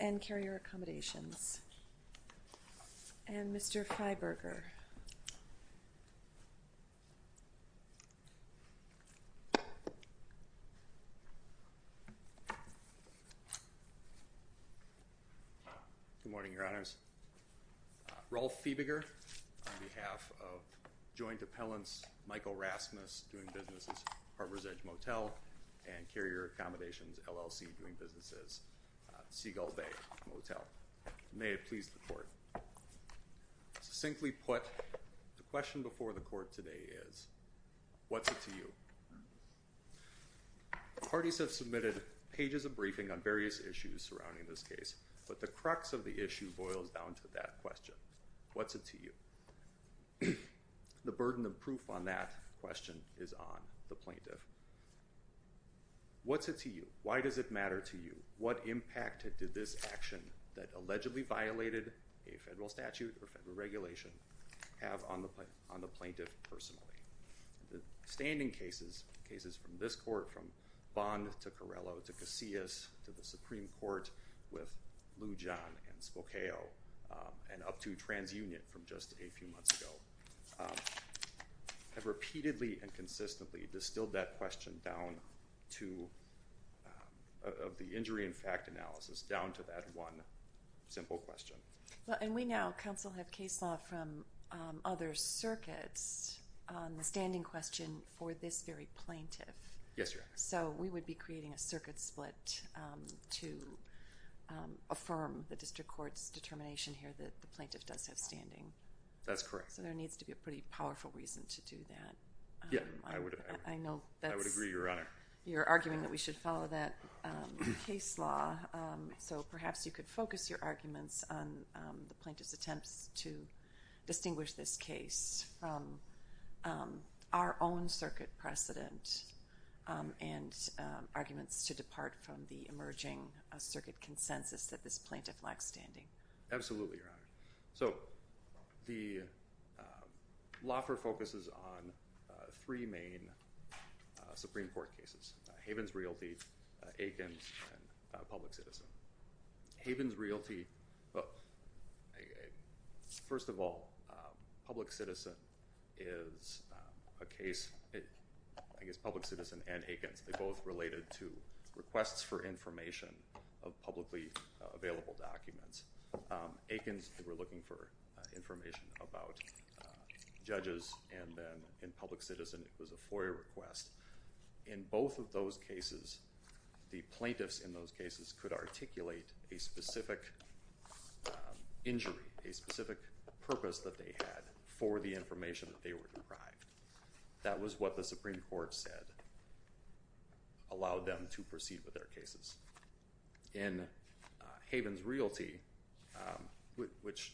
and Carrier Accommodations. And Mr. Freiberger. Good morning, Your Honors. Rolf Fiebiger, on behalf of Joint Appellants, Michael Rasmus, doing business with Carrier Accommodations. This is Harbor's Edge Motel and Carrier Accommodations, LLC, doing business at Seagull Bay Motel. May it please the Court. Succinctly put, the question before the Court today is, what's it to you? Parties have submitted pages of briefing on various issues surrounding this case, but the crux of the issue boils down to that question, what's it to you? The burden of proof on that question is on the plaintiff. What's it to you? Why does it matter to you? What impact did this action that allegedly violated a federal statute or federal regulation have on the plaintiff personally? The standing cases, cases from this Court, from Bond to Carrello to Casillas to the Supreme Court, and Spokao, and up to TransUnion from just a few months ago, have repeatedly and consistently distilled that question down to, of the injury and fact analysis, down to that one simple question. And we now, counsel, have case law from other circuits on the standing question for this very plaintiff. Yes, Your Honor. So we would be creating a circuit split to affirm the district court's determination here that the plaintiff does have standing. That's correct. So there needs to be a pretty powerful reason to do that. Yeah, I would agree, Your Honor. You're arguing that we should follow that case law, so perhaps you could focus your arguments on the plaintiff's attempts to distinguish this case from our own circuit precedent and arguments to depart from the emerging circuit consensus that this plaintiff lacks standing. Absolutely, Your Honor. So the law firm focuses on three main Supreme Court cases, Havens Realty, Aikens, and Public Citizen. Havens Realty, first of all, Public Citizen is a case, I guess Public Citizen and Aikens, they're both related to requests for information of publicly available documents. Aikens, they were looking for information about judges, and then in Public Citizen it was a FOIA request. In both of those cases, the plaintiffs in those cases could articulate a specific injury, a specific purpose that they had for the information that they were deprived. That was what the Supreme Court said allowed them to proceed with their cases. In Havens Realty, which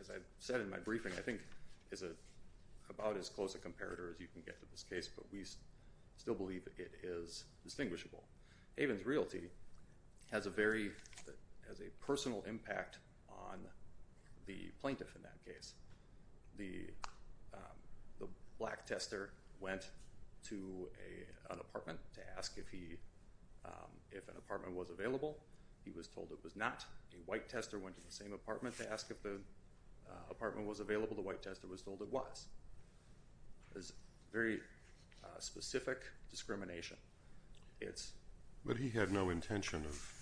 as I said in my briefing, I think is about as close a comparator as you can get to this case, but we still believe it is distinguishable. Havens Realty has a very, has a personal impact on the plaintiff in that case. The black tester went to an apartment to ask if an apartment was available. He was told it was not. A white tester went to the same apartment to ask if the apartment was available. The white tester was told it was. It's a very specific discrimination. It's... But he had no intention of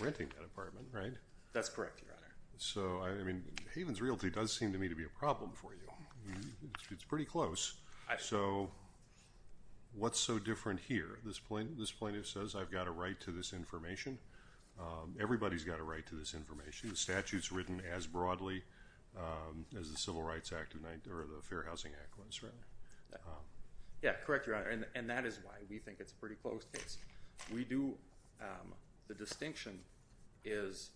renting that apartment, right? That's correct, Your Honor. So, I mean, Havens Realty does seem to me to be a problem for you. It's pretty close. So what's so different here? This plaintiff says, I've got a right to this information. Everybody's got a right to this information. The statute's written as broadly as the Civil Rights Act or the Fair Housing Act was, right? Yeah, correct, Your Honor. And that is why we think it's a pretty close case. We do... The distinction is,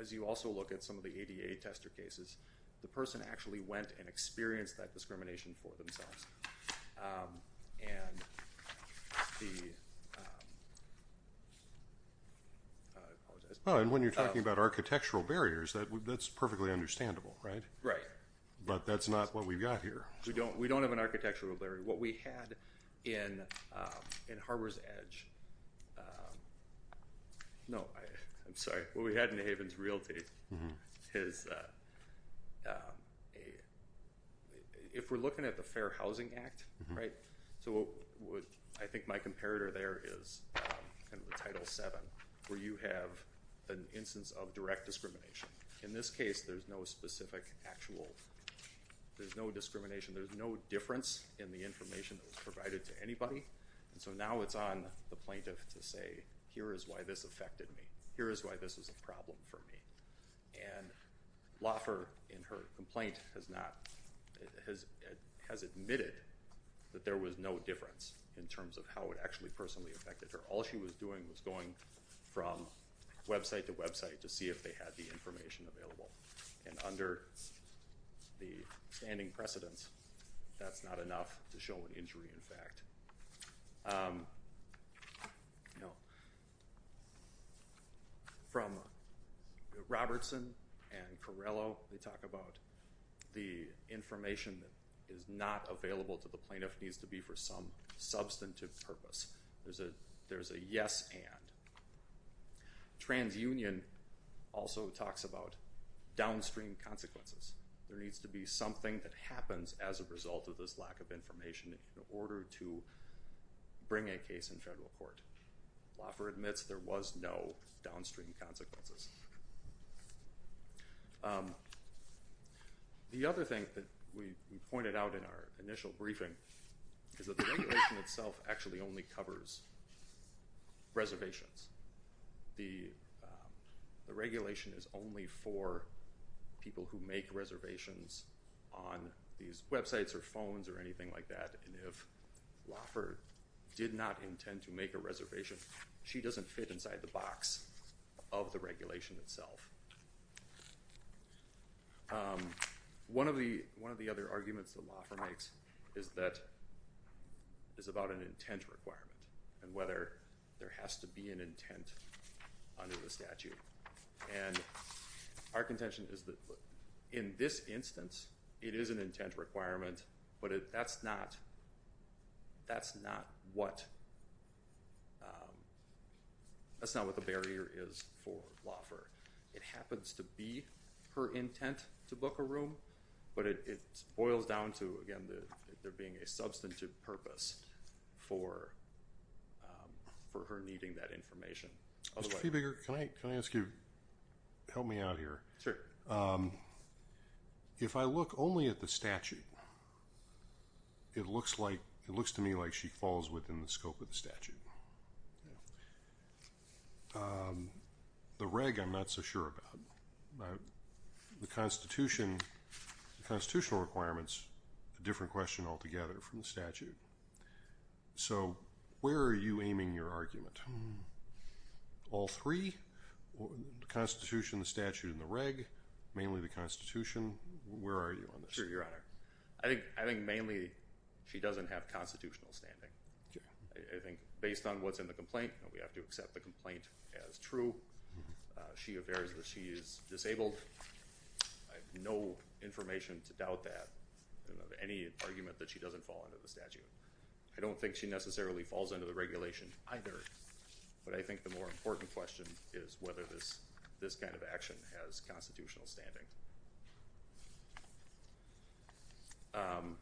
as you also look at some of the ADA tester cases, the person actually went and experienced that discrimination for themselves. And the... I apologize. Oh, and when you're talking about architectural barriers, that's perfectly understandable, right? Right. But that's not what we've got here. We don't have an architectural barrier. What we had in Harbor's Edge, no, I'm sorry, what we had in Havens Realty is, if we're looking at the Fair Housing Act, right? So I think my comparator there is in the Title VII, where you have an instance of direct discrimination. In this case, there's no specific, actual, there's no discrimination, there's no difference in the information that was provided to anybody, and so now it's on the plaintiff to say, here is why this affected me, here is why this is a problem for me. And Loffer, in her complaint, has not, has admitted that there was no difference in terms of how it actually personally affected her. All she was doing was going from website to website to see if they had the information available. And under the standing precedence, that's not enough to show an injury, in fact. You know, from Robertson and Corrello, they talk about the information that is not available to the plaintiff needs to be for some substantive purpose. There's a yes and. TransUnion also talks about downstream consequences. There needs to be something that happens as a result of this lack of information in order to bring a case in federal court. Loffer admits there was no downstream consequences. The other thing that we pointed out in our initial briefing is that the regulation itself actually only covers reservations. The regulation is only for people who make reservations on these websites or phones or websites. If Loffer did not intend to make a reservation, she doesn't fit inside the box of the regulation itself. One of the other arguments that Loffer makes is that, is about an intent requirement and whether there has to be an intent under the statute. And our contention is that in this instance, it is an intent requirement, but that's not what, that's not what the barrier is for Loffer. It happens to be her intent to book a room, but it boils down to, again, there being a Mr. Feebiger, can I ask you, help me out here. If I look only at the statute, it looks like, it looks to me like she falls within the scope of the statute. The reg, I'm not so sure about. The constitution, the constitutional requirements, a different question altogether from the statute. So, where are you aiming your argument? All three, the constitution, the statute, and the reg, mainly the constitution, where are you on this? Sure, your honor. I think, I think mainly she doesn't have constitutional standing. I think based on what's in the complaint, we have to accept the complaint as true. She affirms that she is disabled, I have no information to doubt that, any argument that she doesn't fall under the statute. I don't think she necessarily falls under the regulation either, but I think the more important question is whether this kind of action has constitutional standing. Um,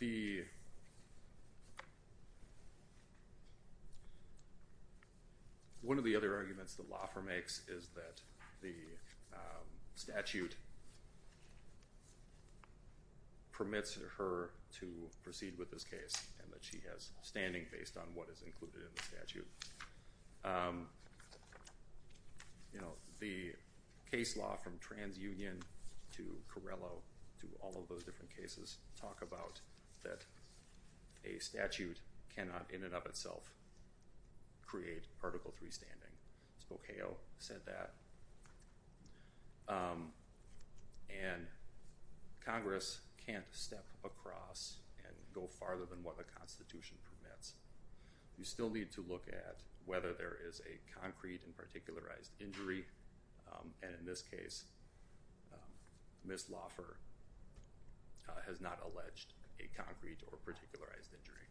the, one of the other arguments that Laffer makes is that the, um, statute permits her to proceed with this case and that she has standing based on what is included in the statute. Um, you know, the case law from TransUnion to Corello to all of those different cases talk about that a statute cannot in and of itself create Article III standing. Spokeo said that. Um, and Congress can't step across and go farther than what the constitution permits. You still need to look at whether there is a concrete and particularized injury, and in this case, Ms. Laffer has not alleged a concrete or particularized injury.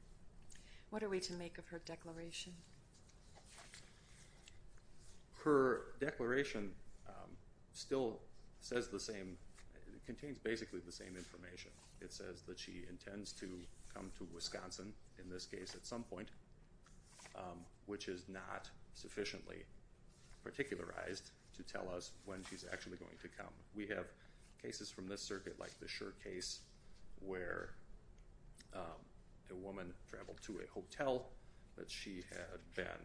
What are we to make of her declaration? Her declaration, um, still says the same, contains basically the same information. It says that she intends to come to Wisconsin, in this case at some point, um, which is not sufficiently particularized to tell us when she's actually going to come. We have cases from this circuit like the Shur case where, um, a woman traveled to a hotel that she had been,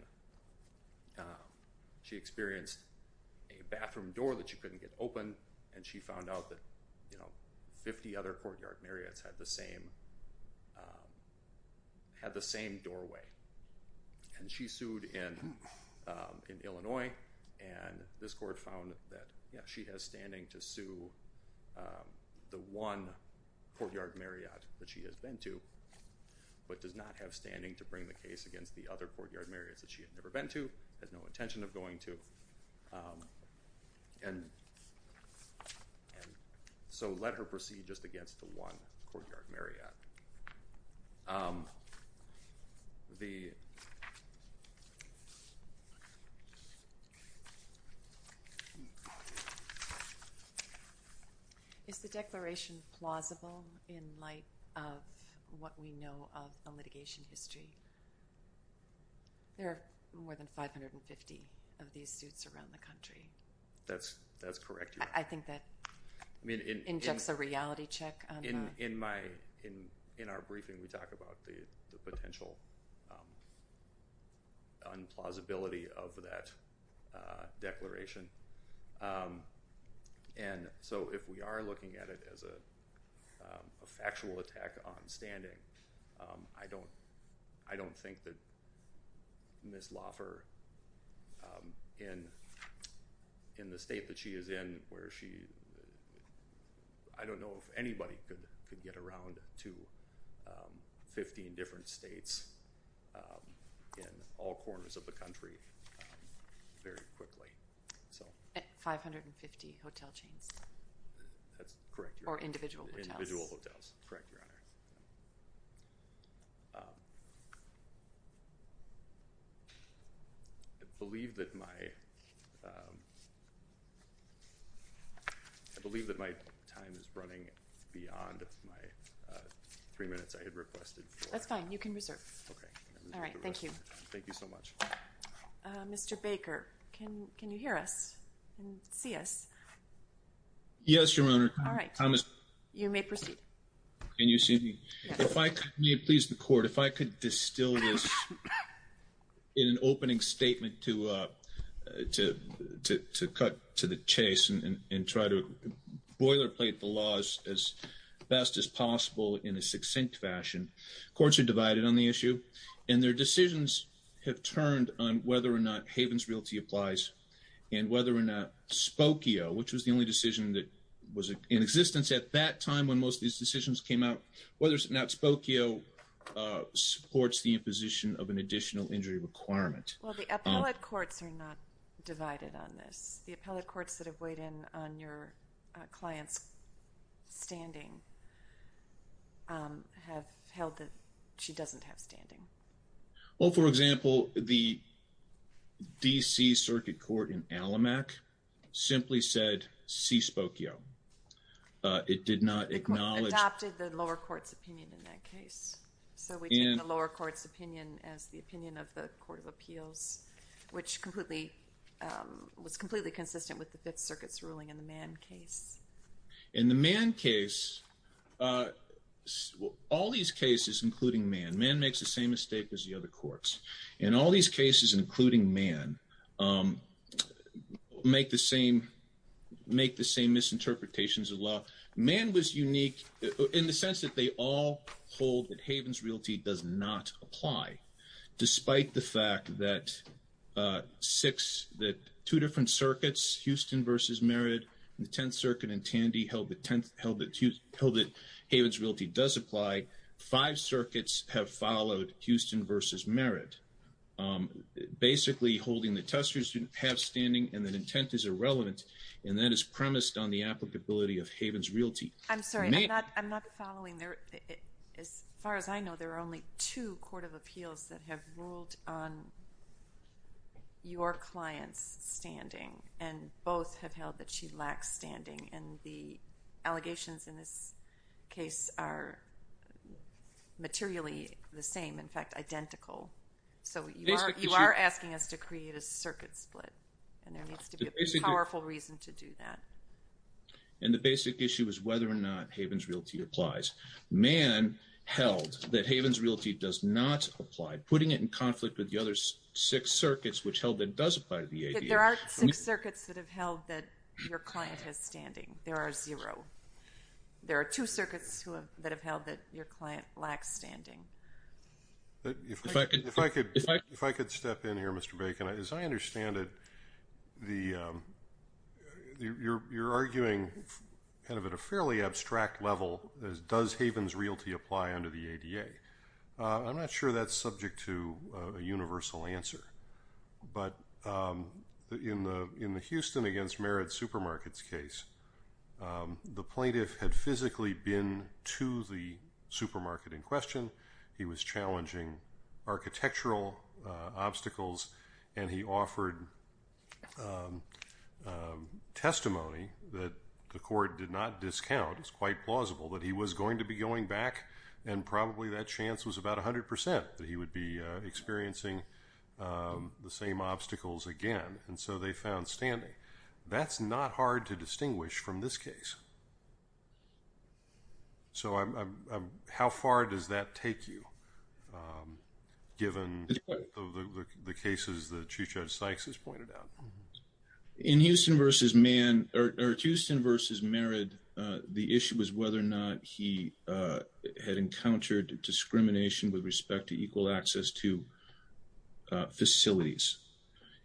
um, she experienced a bathroom door that she couldn't get open and she found out that, you know, 50 other Courtyard Marriott's had the same, um, had the same doorway. And she sued in, um, in Illinois and this court found that, yeah, she has standing to sue, um, the one Courtyard Marriott that she has been to, but does not have standing to bring the case against the other Courtyard Marriott's that she had never been to, has no intention of going to, um, and, and so let her proceed just against the one Courtyard Marriott. Um, the... Is the declaration plausible in light of what we know of the litigation history? There are more than 550 of these suits around the country. That's, that's correct. I think that... I mean... Injects a reality check on the... In my, in, in our briefing, we talk about the, the potential, um, on plausibility of that, uh, declaration, um, and so if we are looking at it as a, um, a factual attack on standing, um, I don't, I don't think that Ms. Loffer, um, in, in the state that she is in where she... I don't know if anybody could, could get around to, um, 15 different states, um, in all corners of the country, um, very quickly, so... At 550 hotel chains? That's correct, Your Honor. Or individual hotels? Individual hotels. Correct, Your Honor. Um, I believe that my, um, I believe that my time is running beyond my, uh, three minutes I had requested for... That's fine. You can reserve. Okay. All right. Thank you. Thank you so much. Uh, Mr. Baker, can, can you hear us and see us? Yes, Your Honor. All right. I must... You may proceed. Can you see me? Yes. If I could, may it please the Court, if I could distill this in an opening statement to, uh, to, to, to cut to the chase and, and try to boilerplate the laws as best as possible in a succinct fashion. Courts are divided on the issue, and their decisions have turned on whether or not Havens Realty applies and whether or not Spokio, which was the only decision that was in existence at that time when most of these decisions came out, whether or not Spokio, uh, supports the imposition of an additional injury requirement. Well, the appellate courts are not divided on this. The appellate courts that have weighed in on your, uh, client's standing, um, have held that she doesn't have standing. Well, for example, the D.C. Circuit Court in Allamack simply said C. Spokio. Uh, it did not acknowledge... The Court adopted the lower court's opinion in that case. So we take the lower court's opinion as the opinion of the Court of Appeals, which completely, um, was completely consistent with the Fifth Circuit's ruling in the Mann case. In the Mann case, uh, all these cases, including Mann, Mann makes the same mistake as the other courts, and all these cases, including Mann, um, make the same, make the same misinterpretations of law. Mann was unique in the sense that they all hold that Havens Realty does not apply, despite the fact that, uh, six, that two different circuits, Houston v. Merritt, the Tenth Circuit and Tandy held that Havens Realty does apply. Five circuits have followed Houston v. Merritt, um, basically holding that testers have standing and that intent is irrelevant, and that is premised on the applicability of Havens Realty. I'm sorry. I'm not following. As far as I know, there are only two Court of Appeals that have ruled on your client's standing, and both have held that she lacks standing, and the allegations in this case are materially the same, in fact, identical. So you are, you are asking us to create a circuit split, and there needs to be a powerful reason to do that. And the basic issue is whether or not Havens Realty applies. Mann held that Havens Realty does not apply, putting it in conflict with the other six circuits which held that it does apply to the ADA. There are six circuits that have held that your client has standing. There are zero. There are two circuits that have held that your client lacks standing. If I could step in here, Mr. Bacon, as I understand it, the, um, you're arguing kind of at a fairly abstract level, does Havens Realty apply under the ADA? I'm not sure that's subject to a universal answer, but in the Houston against Merritt Supermarkets case, the plaintiff had physically been to the supermarket in question. He was challenging architectural obstacles, and he offered testimony that the court did not discount. It's quite plausible that he was going to be going back, and probably that chance was about 100% that he would be experiencing the same obstacles again, and so they found standing. That's not hard to distinguish from this case. So how far does that take you, given the cases that Chief Judge Sykes has pointed out? In Houston versus Mann, or Houston versus Merritt, the issue was whether or not he had encountered discrimination with respect to equal access to facilities.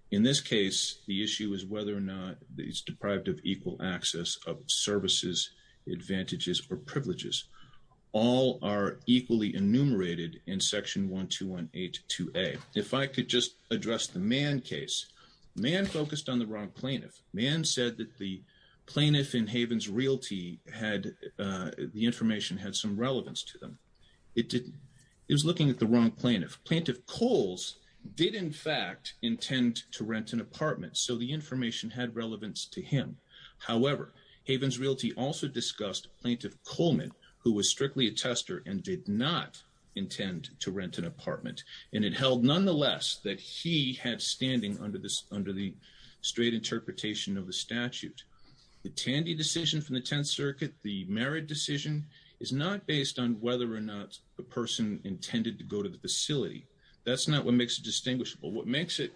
In this case, the issue is whether or not he's deprived of equal access of services, advantages, or privileges. All are equally enumerated in Section 12182A. If I could just address the Mann case, Mann focused on the wrong plaintiff. Mann said that the plaintiff in Havens Realty had, uh, the information had some relevance to them. It didn't. He was looking at the wrong plaintiff. Plaintiff Coles did, in fact, intend to rent an apartment, so the information had relevance to him. However, Havens Realty also discussed Plaintiff Coleman, who was strictly a tester and did not intend to rent an apartment, and it held, nonetheless, that he had standing under the straight interpretation of the statute. The Tandy decision from the Tenth Circuit, the Merritt decision, is not based on whether or not the person intended to go to the facility. That's not what makes it distinguishable. What makes it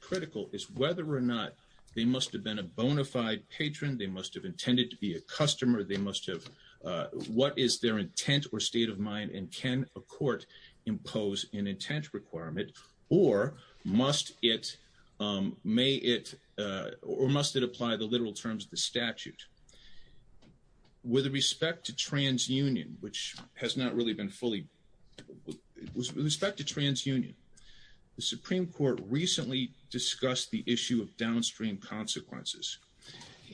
critical is whether or not they must have been a bona fide patron, they must have intended to be a customer, they must have, uh, what is their intent or state of mind and can a court impose an intent requirement, or must it, um, may it, uh, or must it apply the literal terms of the statute. With respect to TransUnion, which has not really been fully, with respect to TransUnion, the Supreme Court recently discussed the issue of downstream consequences,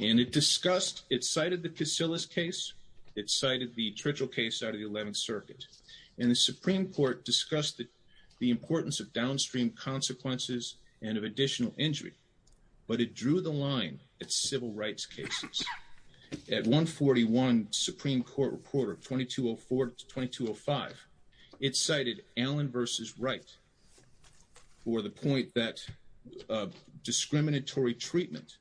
and it discussed, it cited the Casillas case, it cited the Tritchell case out of the Eleventh Circuit, and the Supreme Court discussed the importance of downstream consequences and of additional injury, but it drew the line at civil rights cases. At 141 Supreme Court Reporter 2204-2205, it cited Allen v. Wright for the point that discriminatory treatment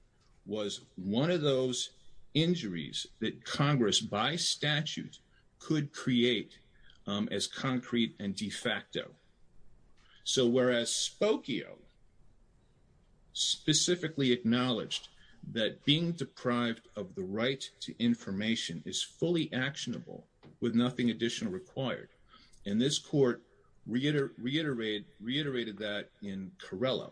was one of those injuries that Congress, by statute, could create, um, as concrete and de facto. So, whereas Spokio specifically acknowledged that being deprived of the right to information is fully actionable with nothing additional required, and this court reiterate, reiterated that in Carrello.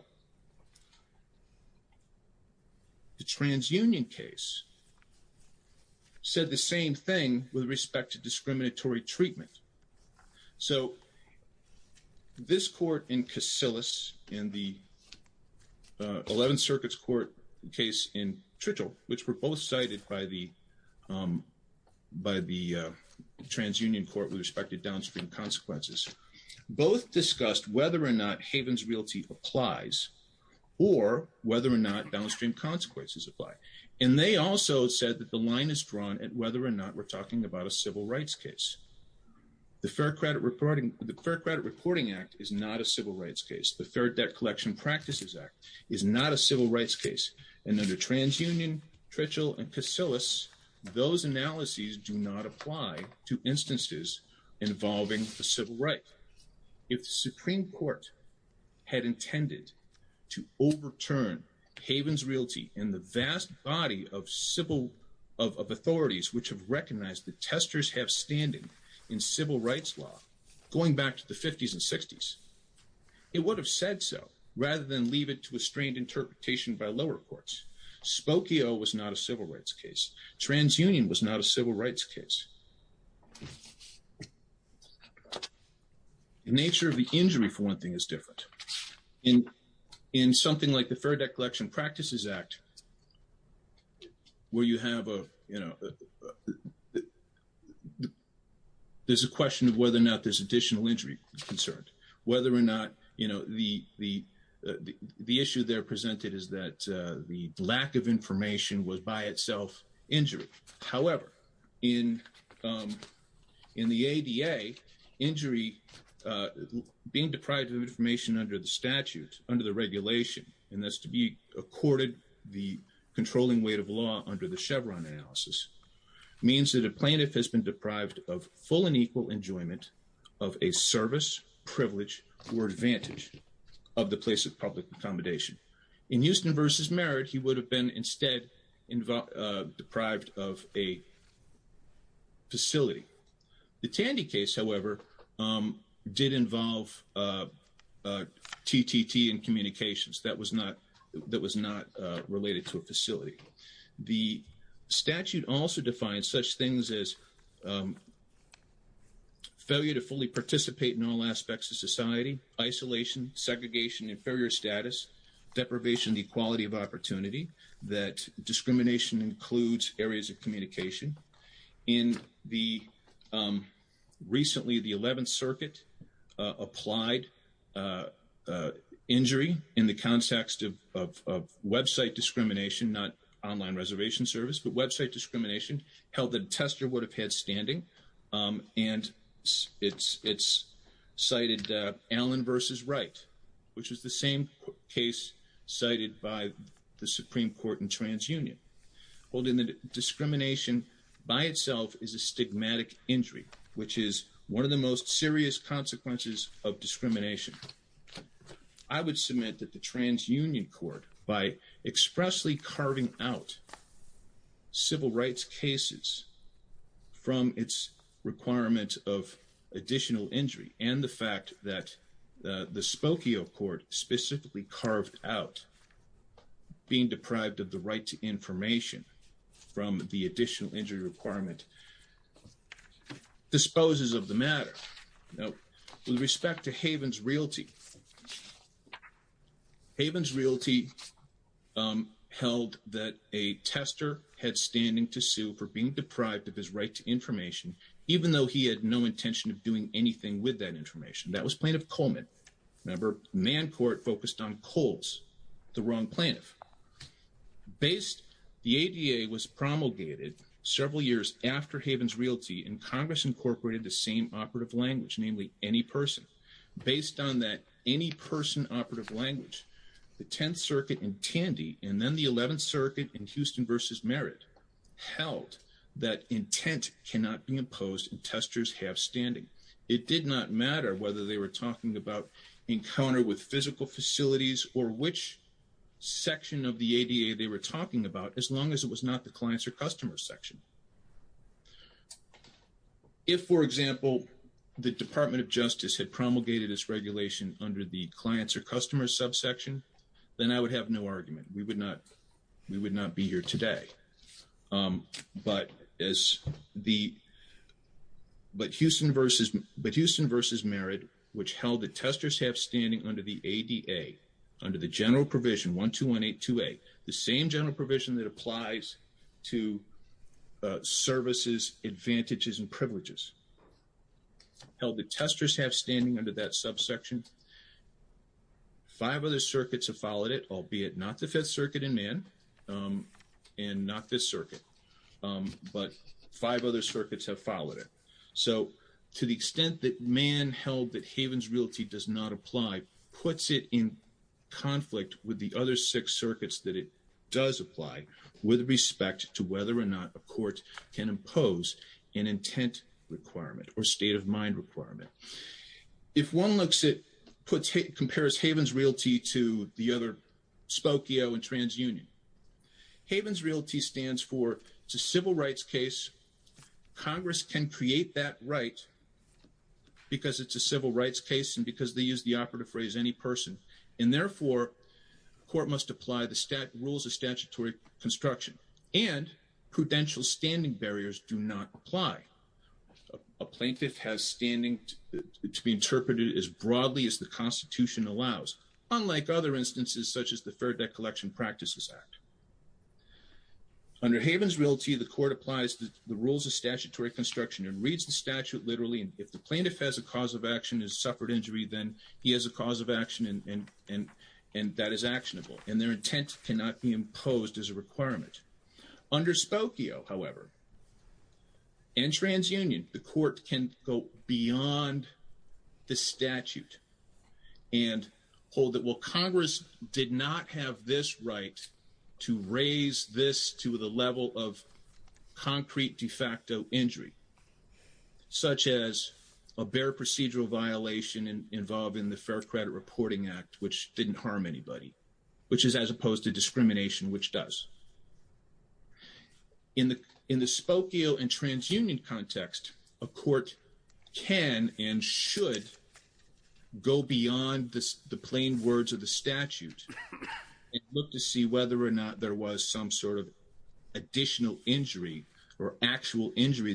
The TransUnion case said the same thing with respect to discriminatory treatment. So, this court in Casillas and the Eleventh Circuit's court case in Tritchell, which were both cited by the, um, by the TransUnion court with respect to downstream consequences, both discussed whether or not Havens Realty applies, or whether or not downstream consequences apply. And they also said that the line is drawn at whether or not we're talking about a civil rights case. The Fair Credit Reporting, the Fair Credit Reporting Act is not a civil rights case. The Fair Debt Collection Practices Act is not a civil rights case. And under TransUnion, Tritchell, and Casillas, those analyses do not apply to instances involving a civil right. If the Supreme Court had intended to overturn Havens Realty and the vast body of civil, of authorities which have recognized that testers have standing in civil rights law, going back to the 50s and 60s, it would have said so rather than leave it to a strained interpretation by lower courts. Spokio was not a civil rights case. TransUnion was not a civil rights case. The nature of the injury, for one thing, is different. In something like the Fair Debt Collection Practices Act, where you have a, you know, there's a question of whether or not there's additional injury concerned. Whether or not, you know, the issue there presented is that the lack of information was by itself injury. However, in the ADA, injury, being deprived of information under the statute, under the regulation, and that's to be accorded the controlling weight of law under the Chevron analysis, means that a plaintiff has been deprived of full and equal enjoyment of a service, privilege, or advantage of the place of public accommodation. In Houston v. Merritt, he would have been instead deprived of a facility. The Tandy case, however, did involve TTT and communications. That was not related to a facility. The statute also defines such things as failure to fully participate in all aspects of society, isolation, segregation, inferior status, deprivation of equality of opportunity, that discrimination includes areas of communication. In the recently, the 11th Circuit, applied injury in the context of website discrimination, not online reservation service, but website discrimination, held that a tester would have had standing, and it's cited Allen v. Wright, which is the same case cited by the Supreme Court in TransUnion. Holding the discrimination by itself is a stigmatic injury, which is one of the most serious consequences of discrimination. I would submit that the TransUnion court, by expressly carving out civil rights cases from its requirement of additional injury, and the fact that the Spokio court specifically carved out being deprived of the right to information from the additional injury requirement, disposes of the matter. Now, with respect to Havens Realty, Havens Realty held that a tester had standing to sue for being deprived of his right to information, even though he had no intention of doing anything with that information. That was Plaintiff Coleman. Remember, Mann Court focused on Coles, the wrong plaintiff. Based, the ADA was promulgated several years after Havens Realty, and Congress incorporated the same operative language, namely, any person. Based on that any person operative language, the 10th Circuit in Tandy, and then the 11th Circuit in Houston v. Merritt, held that intent cannot be imposed and testers have standing. It did not matter whether they were talking about encounter with physical facilities or which section of the ADA they were talking about, as long as it was not the clients or customer section. If, for example, the Department of Justice had promulgated this regulation under the clients or customer subsection, then I would have no argument. We would not be here today. But as the, but Houston v. Merritt, which held that testers have standing under the ADA, under the general provision, 12182A, the same general provision that applies to services, advantages, and privileges. Held that testers have standing under that subsection, five other circuits have followed it, albeit not the 5th Circuit in Mann, and not this circuit, but five other circuits have followed it. So, to the extent that Mann held that Havens Realty does not apply, puts it in conflict with the other six circuits that it does apply with respect to whether or not a court can impose an intent requirement or state of mind requirement. If one looks at, compares Havens Realty to the other, Spokio and TransUnion, Havens Realty stands for, it's a civil rights case. Congress can create that right because it's a civil rights case and because they use the court must apply the rules of statutory construction and prudential standing barriers do not apply. A plaintiff has standing to be interpreted as broadly as the Constitution allows, unlike other instances such as the Fair Debt Collection Practices Act. Under Havens Realty, the court applies the rules of statutory construction and reads the statute literally. And if the plaintiff has a cause of action, has suffered injury, then he has a cause of action. And their intent cannot be imposed as a requirement. Under Spokio, however, and TransUnion, the court can go beyond the statute and hold that, well, Congress did not have this right to raise this to the level of concrete de facto injury, such as a bare procedural violation involved in the Fair Credit Reporting Act, which didn't harm anybody, which is as opposed to discrimination, which does. In the Spokio and TransUnion context, a court can and should go beyond the plain words of the statute and look to see whether or not there was some sort of additional injury or in the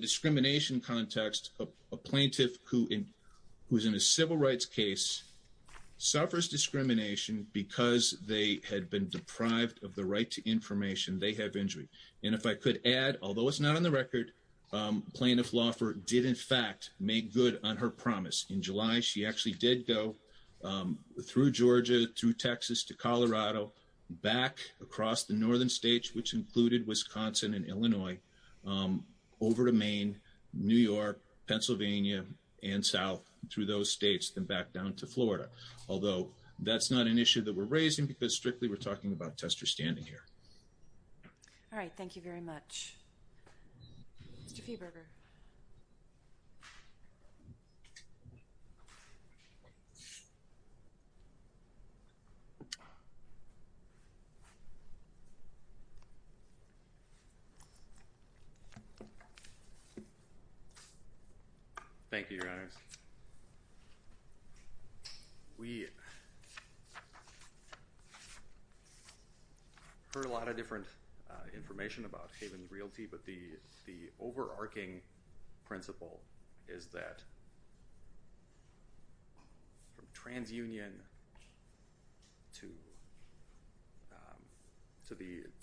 discrimination context, a plaintiff who's in a civil rights case suffers discrimination because they had been deprived of the right to information. They have injury. And if I could add, although it's not on the record, Plaintiff Laufer did, in fact, make good on her promise. In July, she actually did go through Georgia, through Texas, to Colorado, back across the over to Maine, New York, Pennsylvania, and South through those states, then back down to Florida. Although that's not an issue that we're raising because strictly we're talking about Tester standing here. All right. Thank you very much. Mr. Feeberger. Thank you, Your Honor. We heard a lot of different information about Haven Realty. But the overarching principle is that from TransUnion to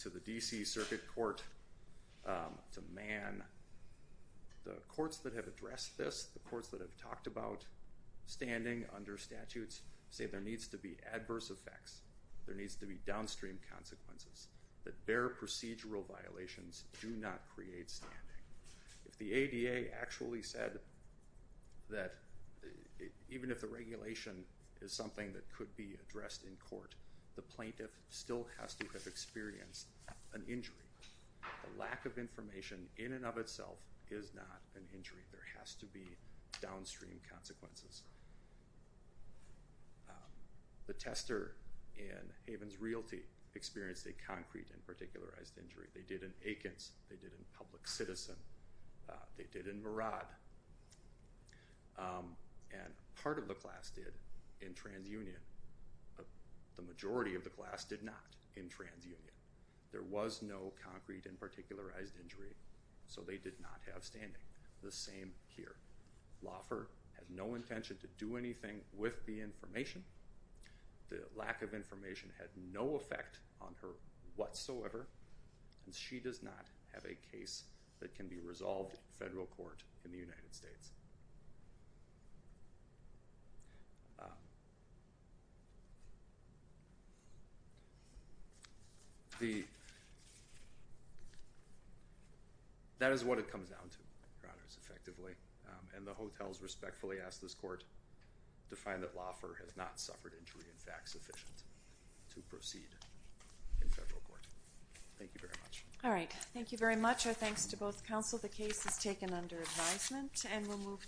the D.C. Circuit Court to Mann, the courts that have addressed this, the courts that have talked about standing under statutes say there needs to be adverse effects. There needs to be downstream consequences, that bare procedural violations do not create standing. If the ADA actually said that even if the regulation is something that could be addressed in court, the plaintiff still has to have experienced an injury. The lack of information in and of itself is not an injury. There has to be downstream consequences. The Tester in Haven's Realty experienced a concrete and particularized injury. They did in Akins. They did in Public Citizen. They did in Murad. And part of the class did in TransUnion, but the majority of the class did not in TransUnion. There was no concrete and particularized injury, so they did not have standing. The same here. Laufer had no intention to do anything with the information. The lack of information had no effect on her whatsoever, and she does not have a case that is in the United States. The, that is what it comes down to, Your Honors, effectively, and the hotels respectfully ask this court to find that Laufer has not suffered injury and facts sufficient to proceed in federal court. Thank you very much. All right. Thank you very much. Our thanks to both counsel. The case is taken under advisement, and we'll move to